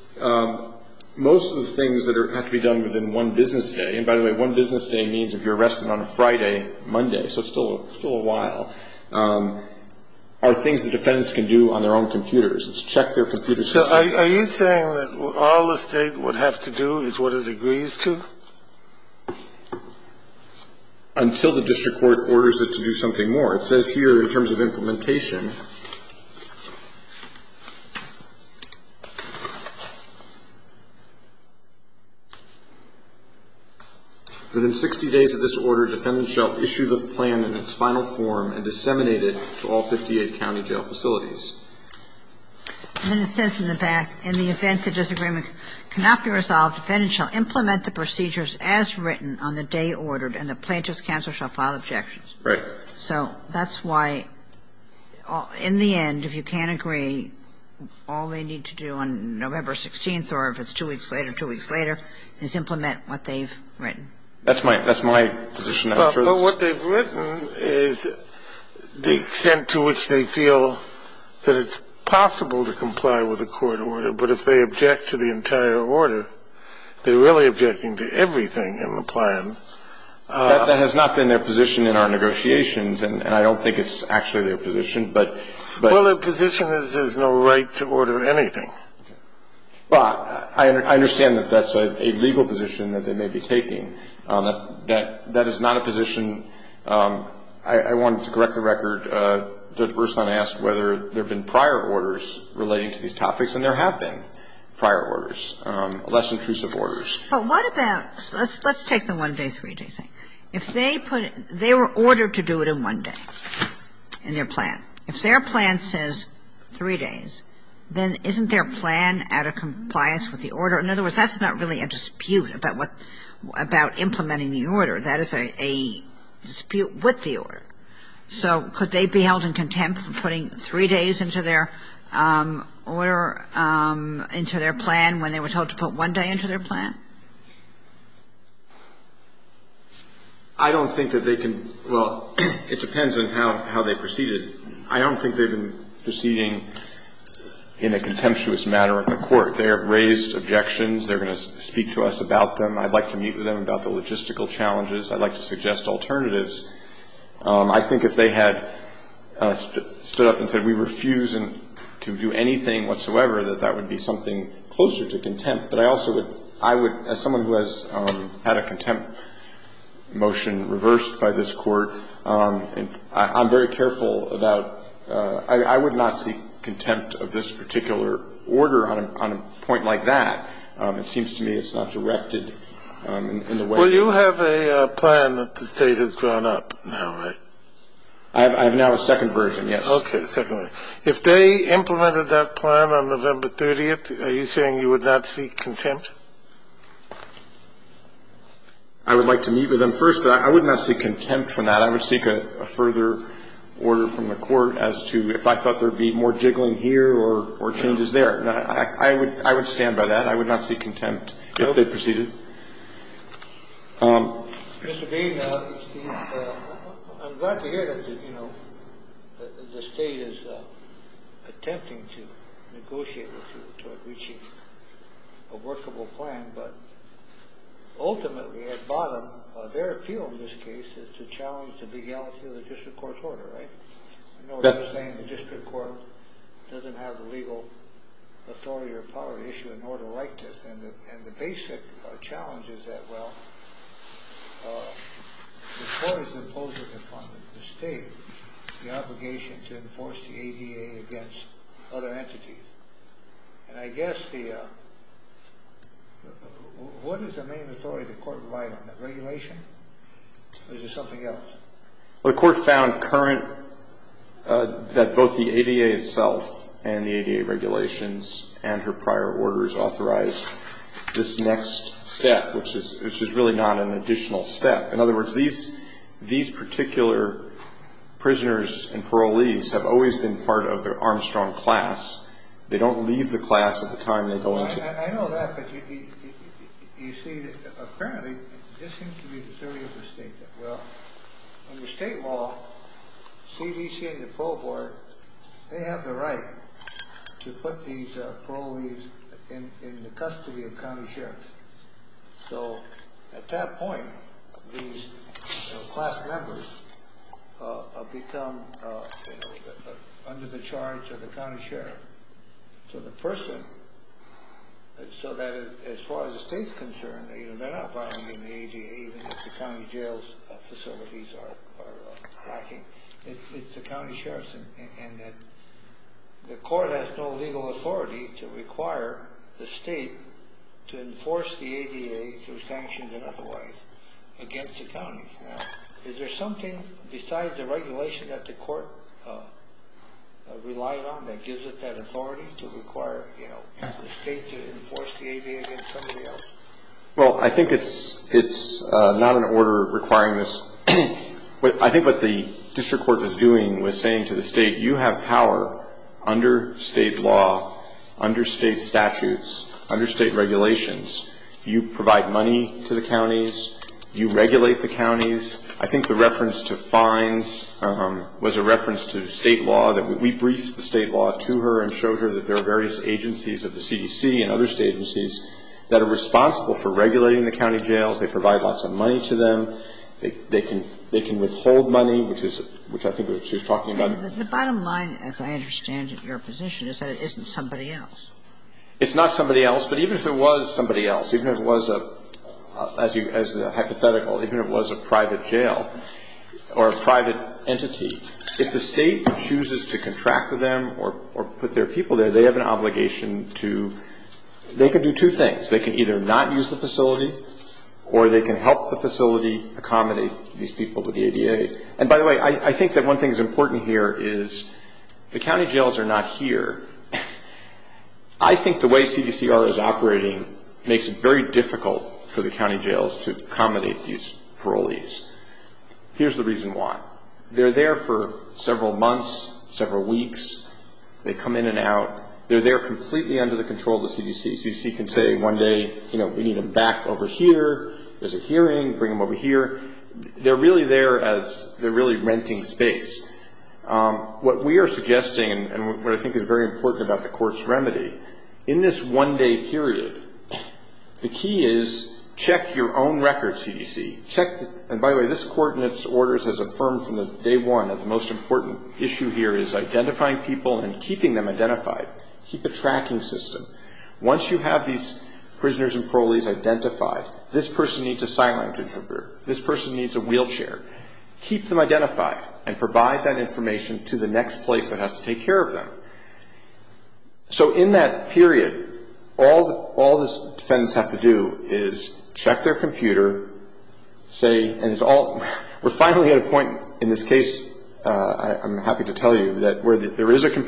most of the things that have to be done within one business day and, by the way, one business day means if you're arrested on a Friday, Monday, so it's still a while, are things that defendants can do on their own computers. It's check their computer system. So are you saying that all the state would have to do is what it agrees to? Until the district court orders it to do something more. It says here in terms of implementation, within 60 days of this order, defendant shall issue the plan in its final form and disseminate it to all 58 county jail facilities. And then it says in the back, in the event the disagreement cannot be resolved, defendant shall implement the procedures as written on the day ordered and the plaintiff's counsel shall file objections. Right. So that's why in the end, if you can't agree, all they need to do on November 16th or if it's two weeks later, two weeks later, is implement what they've written. That's my position. Well, what they've written is the extent to which they feel that it's possible to comply with a court order, but if they object to the entire order, they're really objecting to everything in the plan. That has not been their position in our negotiations, and I don't think it's actually their position, but the position is there's no right to order anything. Well, I understand that that's a legal position that they may be taking. That is not a position. I wanted to correct the record. Judge Burson asked whether there have been prior orders relating to these topics, and there have been prior orders, less intrusive orders. But what about – let's take the one-day, three-day thing. If they put – they were ordered to do it in one day in their plan. If their plan says three days, then isn't their plan out of compliance with the order? In other words, that's not really a dispute about what – about implementing the order. That is a dispute with the order. So could they be held in contempt for putting three days into their order, into their plan, when they were told to put one day into their plan? I don't think that they can – well, it depends on how they proceeded. I don't think they've been proceeding in a contemptuous manner at the court. They have raised objections. They're going to speak to us about them. I'd like to meet with them about the logistical challenges. I'd like to suggest alternatives. I think if they had stood up and said we refuse to do anything whatsoever, that that would be something closer to contempt. But I also would – I would – as someone who has had a contempt motion reversed by this Court, I'm very careful about – I would not seek contempt of this particular order on a point like that. It seems to me it's not directed in the way you – Well, you have a plan that the State has drawn up now, right? I have now a second version, yes. Okay. Second version. If they implemented that plan on November 30th, are you saying you would not seek contempt? I would like to meet with them first, but I would not seek contempt for that. I would seek a further order from the Court as to if I thought there would be more jiggling here or changes there. I would stand by that. I would not seek contempt if they proceeded. Mr. Bean, I'm glad to hear that the State is attempting to negotiate with you to reach a workable plan, but ultimately at bottom of their appeal in this case is to challenge the legality of the district court's order, right? I know what you're saying, the district court doesn't have the legal authority or power to issue an order like this. And the basic challenge is that, well, the Court is imposing upon the State the obligation to enforce the ADA against other entities. And I guess the – what is the main authority the Court relied on, the regulation? Or is there something else? Well, the Court found current that both the ADA itself and the ADA regulations and her prior orders authorized this next step, which is really not an additional step. In other words, these particular prisoners and parolees have always been part of the Armstrong class. They don't leave the class at the time they go into it. I know that, but you see, apparently, this seems to be the theory of the State that, well, these are parolees in the custody of county sheriffs. So at that point, these class members become under the charge of the county sheriff. So the person – so that as far as the State's concerned, they're not violating the ADA even if the county jail facilities are lacking. It's the county sheriffs. And the Court has no legal authority to require the State to enforce the ADA through sanctions and otherwise against the counties. Now, is there something besides the regulation that the Court relied on that gives it that authority to require the State to enforce the ADA against somebody else? Well, I think it's not an order requiring this. I think what the district court was doing was saying to the State, you have power under State law, under State statutes, under State regulations. You provide money to the counties. You regulate the counties. I think the reference to fines was a reference to State law. We briefed the State law to her and showed her that there are various agencies of the CDC and other State agencies that are responsible for regulating the county jails. They provide lots of money to them. They can withhold money, which I think she was talking about. The bottom line, as I understand it, Your position is that it isn't somebody else. It's not somebody else. But even if it was somebody else, even if it was a hypothetical, even if it was a private jail or a private entity, if the State chooses to contract with them or put their people there, they have an obligation to do two things. They can either not use the facility or they can help the facility accommodate these people with the ADA. And, by the way, I think that one thing that's important here is the county jails are not here. I think the way CDCR is operating makes it very difficult for the county jails to accommodate these parolees. Here's the reason why. They're there for several months, several weeks. They come in and out. They're there completely under the control of the CDC. CDC can say one day, you know, we need them back over here. There's a hearing. Bring them over here. They're really there as they're really renting space. What we are suggesting and what I think is very important about the court's remedy, in this one-day period, the key is check your own records, CDC. Check the, and, by the way, this court in its orders has affirmed from day one that the most important issue here is identifying people and keeping them identified. Keep a tracking system. Once you have these prisoners and parolees identified, this person needs a sign language interpreter. This person needs a wheelchair. Keep them identified and provide that information to the next place that has to take care of them. So in that period, all the defendants have to do is check their computer, say, and it's all, we're finally at a point in this case, I'm happy to tell you, that where there is a that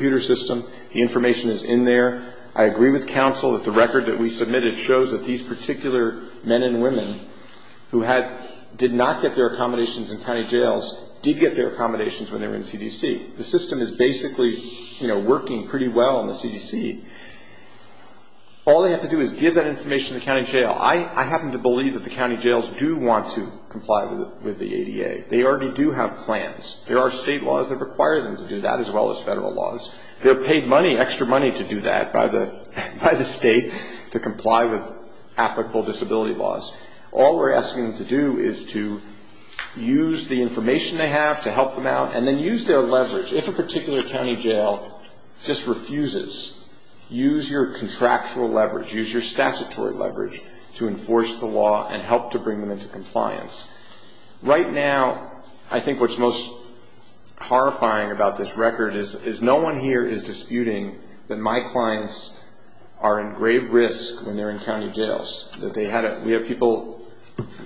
the record that we submitted shows that these particular men and women who had, did not get their accommodations in county jails did get their accommodations when they were in CDC. The system is basically, you know, working pretty well in the CDC. All they have to do is give that information to the county jail. I happen to believe that the county jails do want to comply with the ADA. They already do have plans. There are State laws that require them to do that as well as Federal laws. They're paid money, extra money to do that by the State to comply with applicable disability laws. All we're asking them to do is to use the information they have to help them out and then use their leverage. If a particular county jail just refuses, use your contractual leverage, use your statutory leverage to enforce the law and help to bring them into compliance. Right now, I think what's most horrifying about this record is no one here is disputing that my clients are in grave risk when they're in county jails. We have people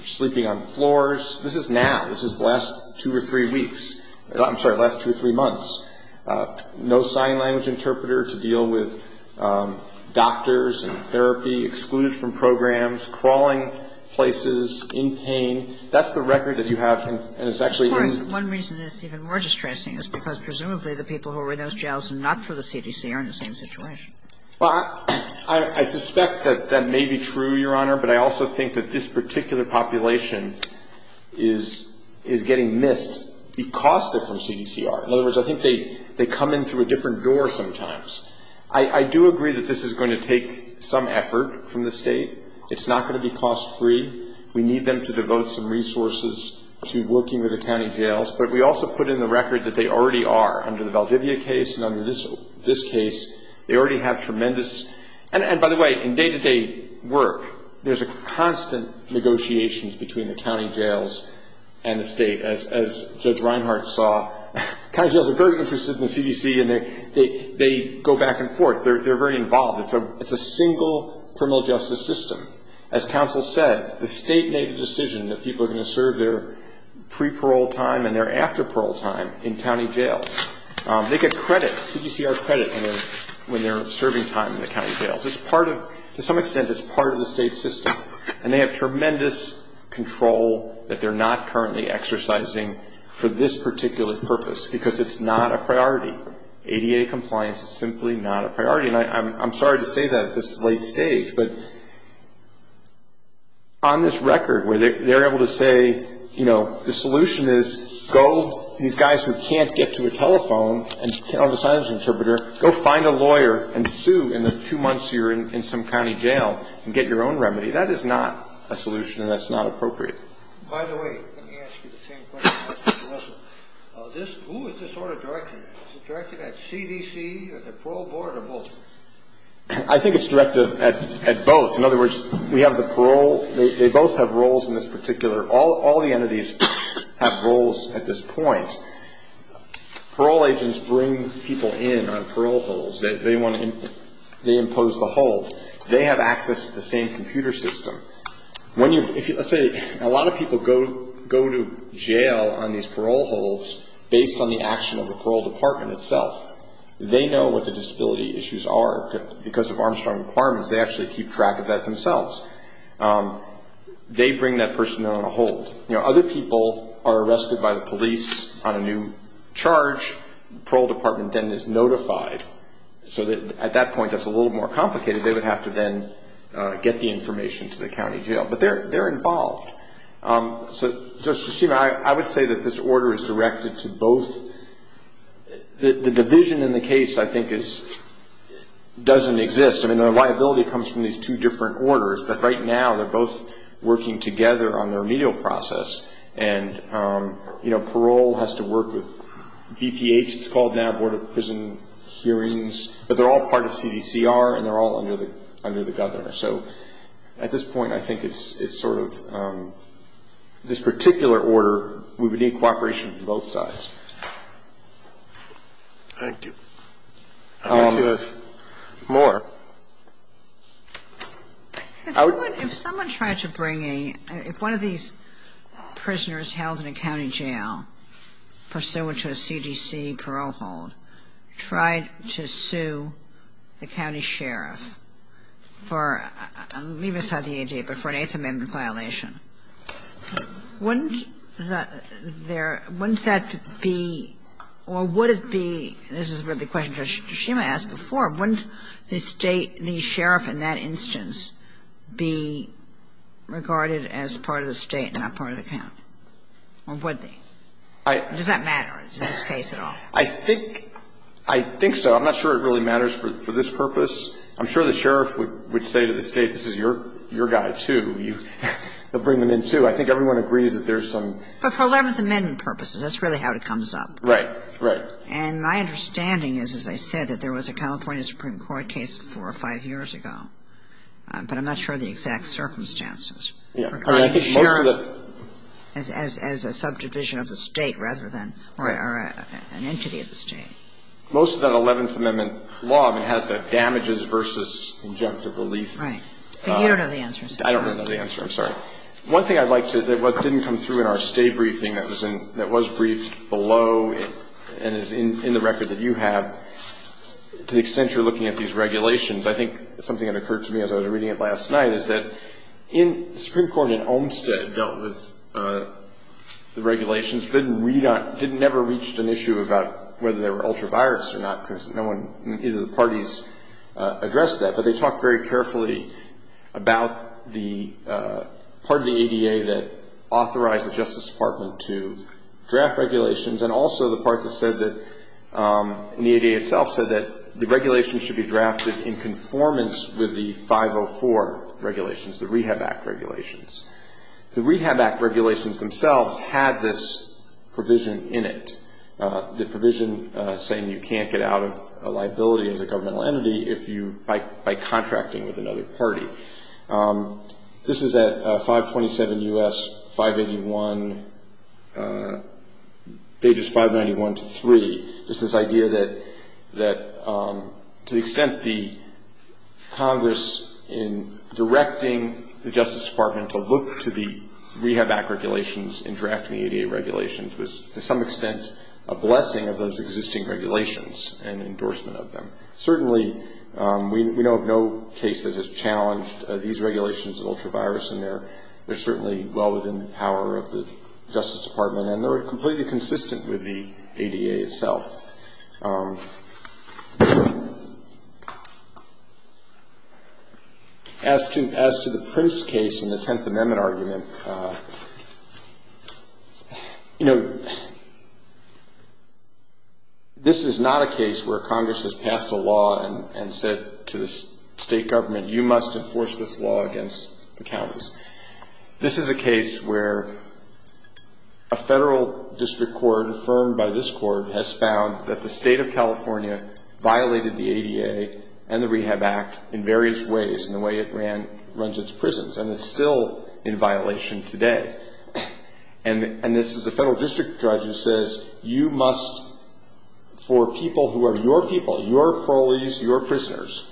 sleeping on floors. This is now. This is the last two or three weeks. I'm sorry, last two or three months. No sign language interpreter to deal with doctors and therapy, excluded from programs, crawling places, in pain. That's the record that you have, and it's actually in. Of course. One reason it's even more distressing is because presumably the people who are in those jails and not for the CDC are in the same situation. Well, I suspect that that may be true, Your Honor, but I also think that this particular population is getting missed because they're from CDCR. In other words, I think they come in through a different door sometimes. I do agree that this is going to take some effort from the State. It's not going to be cost-free. We need them to devote some resources to working with the county jails, but we also put in the record that they already are. Under the Valdivia case and under this case, they already have tremendous, and by the way, in day-to-day work, there's a constant negotiations between the county jails and the State, as Judge Reinhart saw. County jails are very interested in the CDC, and they go back and forth. They're very involved. It's a single criminal justice system. As counsel said, the State made a decision that people are going to serve their pre-parole time and their after-parole time in county jails. They get credit, CDCR credit, when they're serving time in the county jails. It's part of, to some extent, it's part of the State system, and they have tremendous control that they're not currently exercising for this particular purpose because it's not a priority. ADA compliance is simply not a priority. And I'm sorry to say that at this late stage, but on this record where they're able to say, you know, the solution is go, these guys who can't get to a telephone and can't hold a sign language interpreter, go find a lawyer and sue in the two months you're in some county jail and get your own remedy. That is not a solution, and that's not appropriate. By the way, let me ask you the same question I asked Judge Russell. Who is this order directed at? Is it directed at CDC or the parole board or both? I think it's directed at both. In other words, we have the parole, they both have roles in this particular, all the entities have roles at this point. Parole agents bring people in on parole holds. They impose the hold. They have access to the same computer system. Let's say a lot of people go to jail on these parole holds based on the action of the parole department itself. They know what the disability issues are because of Armstrong requirements. They actually keep track of that themselves. They bring that person on a hold. You know, other people are arrested by the police on a new charge. The parole department then is notified so that at that point that's a little more complicated. They would have to then get the information to the county jail, but they're involved. So, Judge Hashima, I would say that this order is directed to both. The division in the case, I think, doesn't exist. I mean, the liability comes from these two different orders, but right now they're both working together on the remedial process, and, you know, parole has to work with VPH, it's called now Board of Prison Hearings, but they're all part of CDCR and they're all under the governor. So at this point, I think it's sort of this particular order, we would need cooperation from both sides. Thank you. I guess you have more. If someone tried to bring a, if one of these prisoners held in a county jail pursuant to a CDC parole hold tried to sue the county sheriff for, I'm leaving aside the ADA, but for an Eighth Amendment violation, wouldn't there, wouldn't that be, or would it be, this is the question Judge Hashima asked before, wouldn't the state, the sheriff in that instance, be regarded as part of the state and not part of the county, or would they? Does that matter in this case at all? I think so. I'm not sure it really matters for this purpose. I'm sure the sheriff would say to the state, this is your guy, too. He'll bring them in, too. I think everyone agrees that there's some ---- But for Eleventh Amendment purposes, that's really how it comes up. Right. Right. And my understanding is, as I said, that there was a California Supreme Court case four or five years ago. But I'm not sure of the exact circumstances. I mean, I think most of the ---- As a subdivision of the state rather than, or an entity of the state. Most of that Eleventh Amendment law, I mean, has the damages versus injunctive relief. Right. But you don't know the answer, so. I don't know the answer. I'm sorry. One thing I'd like to, that didn't come through in our stay briefing that was in, that was I think something that occurred to me as I was reading it last night is that in, the Supreme Court in Olmstead dealt with the regulations. Didn't read on, didn't ever reach an issue about whether they were ultra-virus or not, because no one, either the parties addressed that. But they talked very carefully about the part of the ADA that authorized the Justice Department to draft regulations. And also the part that said that, in the ADA itself, said that the regulations should be drafted in conformance with the 504 regulations, the Rehab Act regulations. The Rehab Act regulations themselves had this provision in it. The provision saying you can't get out of a liability as a governmental entity if you, by contracting with another party. This is at 527 U.S. 581, pages 591 to 3. It's this idea that, to the extent the Congress in directing the Justice Department to look to the Rehab Act regulations and draft the ADA regulations was, to some extent, a blessing of those existing regulations and endorsement of them. Certainly, we know of no case that has challenged these regulations of ultra-virus. And they're certainly well within the power of the Justice Department. And they're completely consistent with the ADA itself. As to the Prince case in the Tenth Amendment argument, you know, this is not a case where Congress has passed a law and said to the state government, you must enforce this law against the counties. This is a case where a federal district court, affirmed by this court, has found that the state of California violated the ADA and the Rehab Act in various ways in the way it runs its prisons. And it's still in violation today. And this is a federal district judge who says, you must, for people who are your people, your parolees, your prisoners,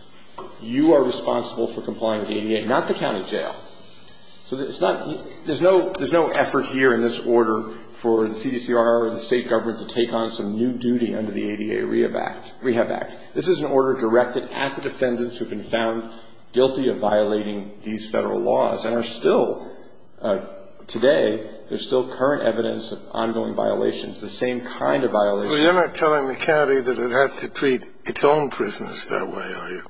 you are responsible for complying with the ADA, not the county jail. So it's not, there's no effort here in this order for the CDCR or the state government to take on some new duty under the ADA Rehab Act. This is an order directed at the defendants who have been found guilty of violating these federal laws and are still, today, there's still current evidence of ongoing violations, the same kind of violations. You're not telling the county that it has to treat its own prisoners that way, are you?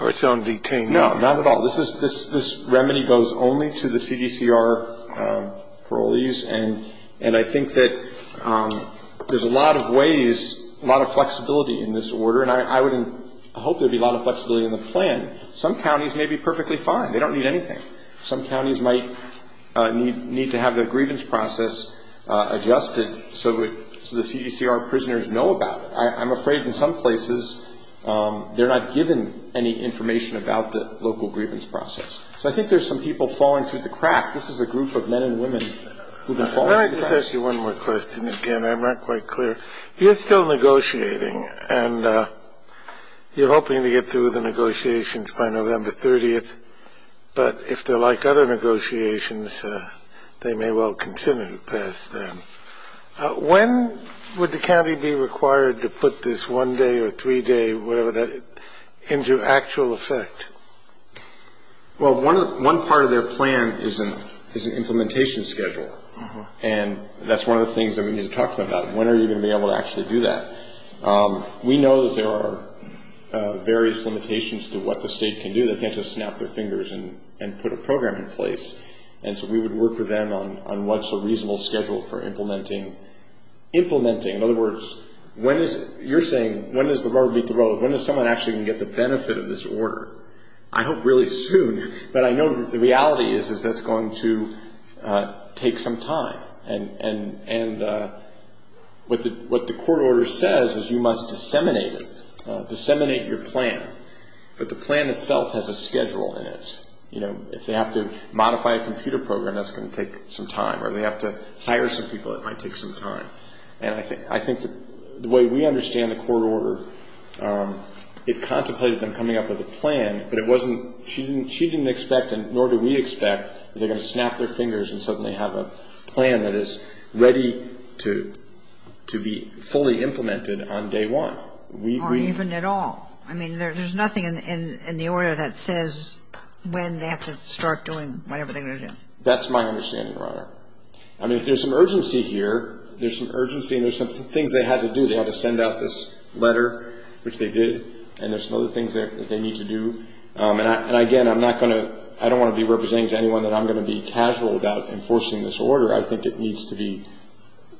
Or its own detainees? No, not at all. This is, this remedy goes only to the CDCR parolees. And I think that there's a lot of ways, a lot of flexibility in this order. And I would hope there would be a lot of flexibility in the plan. Some counties may be perfectly fine. They don't need anything. Some counties might need to have their grievance process adjusted so the CDCR prisoners know about it. I'm afraid in some places they're not given any information about the local grievance process. So I think there's some people falling through the cracks. This is a group of men and women who have been falling through the cracks. Let me just ask you one more question. Again, I'm not quite clear. You're still negotiating. And you're hoping to get through the negotiations by November 30th. But if they're like other negotiations, they may well continue to pass then. When would the county be required to put this one day or three day, whatever, into actual effect? Well, one part of their plan is an implementation schedule. And that's one of the things that we need to talk about. When are you going to be able to actually do that? We know that there are various limitations to what the state can do. They can't just snap their fingers and put a program in place. And so we would work with them on what's a reasonable schedule for implementing. In other words, you're saying when does the rubber meet the road? When is someone actually going to get the benefit of this order? I hope really soon. But I know the reality is that's going to take some time. And what the court order says is you must disseminate it, disseminate your plan. But the plan itself has a schedule in it. You know, if they have to modify a computer program, that's going to take some time. Or they have to hire some people, it might take some time. And I think the way we understand the court order, it contemplated them coming up with a plan, but it wasn't ñ she didn't expect and nor do we expect that they're going to snap their fingers and suddenly have a plan that is ready to be fully implemented on day one. Or even at all. I mean, there's nothing in the order that says when they have to start doing whatever they're going to do. That's my understanding, Your Honor. I mean, there's some urgency here. There's some urgency and there's some things they had to do. They had to send out this letter, which they did. And there's some other things that they need to do. And, again, I'm not going to ñ I don't want to be representing to anyone that I'm going to be casual about enforcing this order. I think it needs to be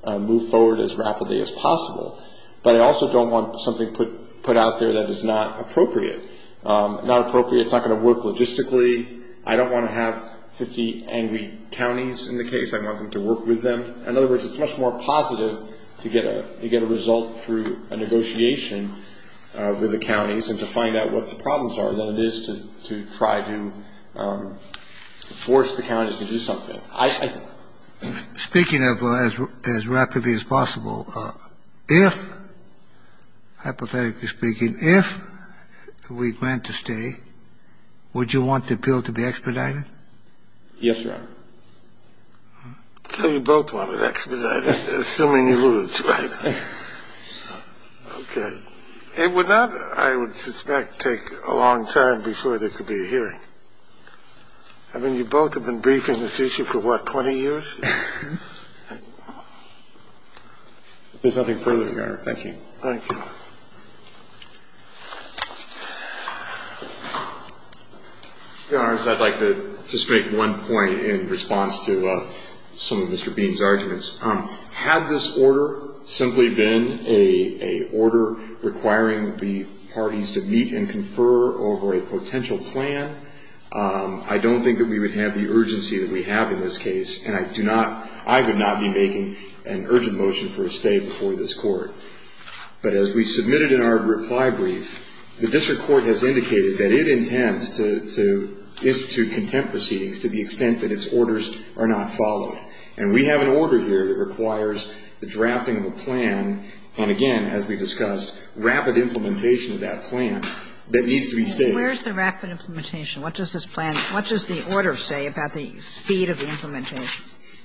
moved forward as rapidly as possible. But I also don't want something put out there that is not appropriate. Not appropriate, it's not going to work logistically. I don't want to have 50 angry counties in the case. I want them to work with them. In other words, it's much more positive to get a result through a negotiation with the counties and to find out what the problems are than it is to try to force the counties to do something. I think. Speaking of as rapidly as possible, if, hypothetically speaking, if we grant the stay, would you want the bill to be expedited? Yes, Your Honor. So you both want it expedited, assuming you lose, right? Okay. It would not, I would suspect, take a long time before there could be a hearing. I mean, you both have been briefing this issue for, what, 20 years? If there's nothing further, Your Honor, thank you. Thank you. Your Honors, I'd like to just make one point in response to some of Mr. Bean's arguments. Had this order simply been an order requiring the parties to meet and confer over a potential plan, I don't think that we would have the urgency that we have in this case, and I do not, I would not be making an urgent motion for a stay before this Court. But as we submitted in our reply brief, the district court has indicated that it intends to institute contempt proceedings to the extent that its orders are not followed. And we have an order here that requires the drafting of a plan, and again, as we discussed, rapid implementation of that plan that needs to be stated. Where's the rapid implementation? What does this plan, what does the order say about the speed of the implementation?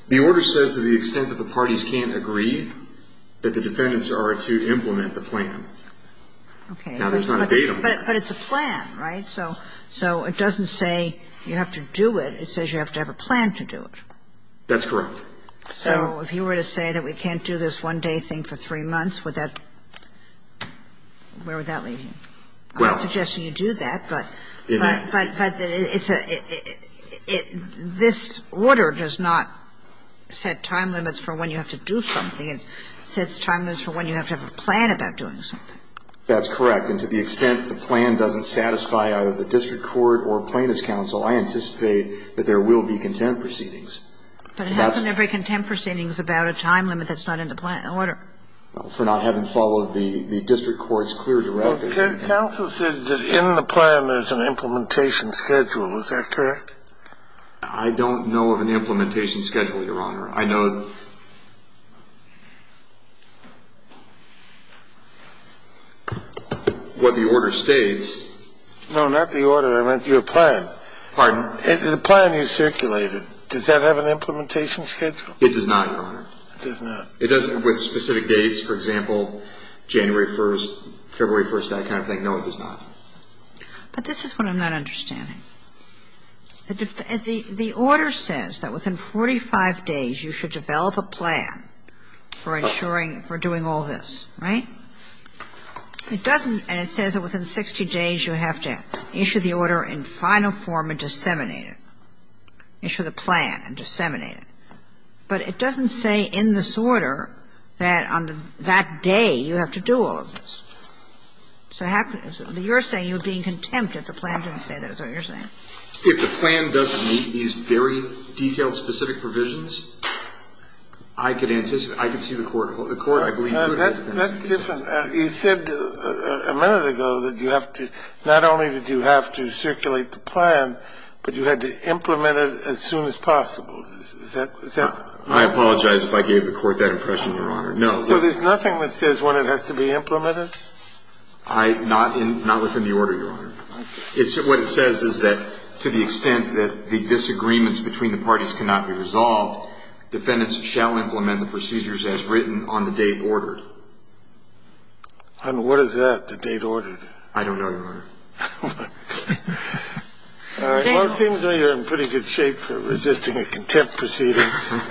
The order says to the extent that the parties can't agree, that the defendants are to implement the plan. Okay. Now, there's not a date on that. But it's a plan, right? So it doesn't say you have to do it. It says you have to have a plan to do it. That's correct. Kagan. So if you were to say that we can't do this one-day thing for three months, would that, where would that leave you? Well. I'm not suggesting you do that, but it's a, it, this order does not set time limits for when you have to do something. It sets time limits for when you have to have a plan about doing something. That's correct. And to the extent the plan doesn't satisfy either the district court or plaintiff's counsel, I anticipate that there will be contempt proceedings. But it hasn't every contempt proceedings about a time limit that's not in the plan order. For not having followed the district court's clear directives. Counsel said that in the plan there's an implementation schedule. Is that correct? I don't know of an implementation schedule, Your Honor. I know what the order states. No, not the order. Your plan. Pardon? The plan you circulated. Does that have an implementation schedule? It does not, Your Honor. It does not. It doesn't with specific dates. For example, January 1st, February 1st, that kind of thing. No, it does not. But this is what I'm not understanding. The order says that within 45 days you should develop a plan for ensuring, for doing all this. Right? It doesn't, and it says that within 60 days you have to issue the order in final form and disseminate it, issue the plan and disseminate it. But it doesn't say in this order that on that day you have to do all of this. So how could it? You're saying you're being contempt if the plan didn't say that is what you're saying. If the plan doesn't meet these very detailed specific provisions, I could anticipate I could see the court. The court, I believe, would have a defense. That's different. You said a minute ago that you have to, not only did you have to circulate the plan, but you had to implement it as soon as possible. Is that? I apologize if I gave the court that impression, Your Honor. No. So there's nothing that says when it has to be implemented? Not within the order, Your Honor. What it says is that to the extent that the disagreements between the parties cannot be resolved, defendants shall implement the procedures as written on the date ordered. And what is that, the date ordered? I don't know, Your Honor. Well, it seems that you're in pretty good shape for resisting a contempt proceeding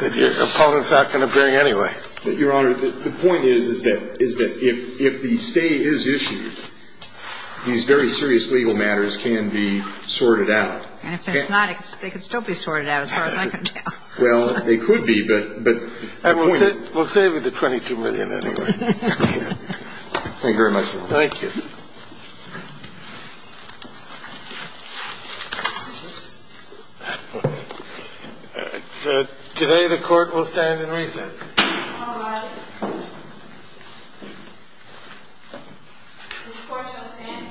that your opponent's not going to bring anyway. Your Honor, the point is, is that if the stay is issued, these very serious legal matters can be sorted out. And if they're not, they can still be sorted out as far as I can tell. Well, they could be, but the point is. We'll save you the $22 million anyway. Thank you very much, Your Honor. Thank you. Today the court will stand in recess. All rise. The court shall stand in recess.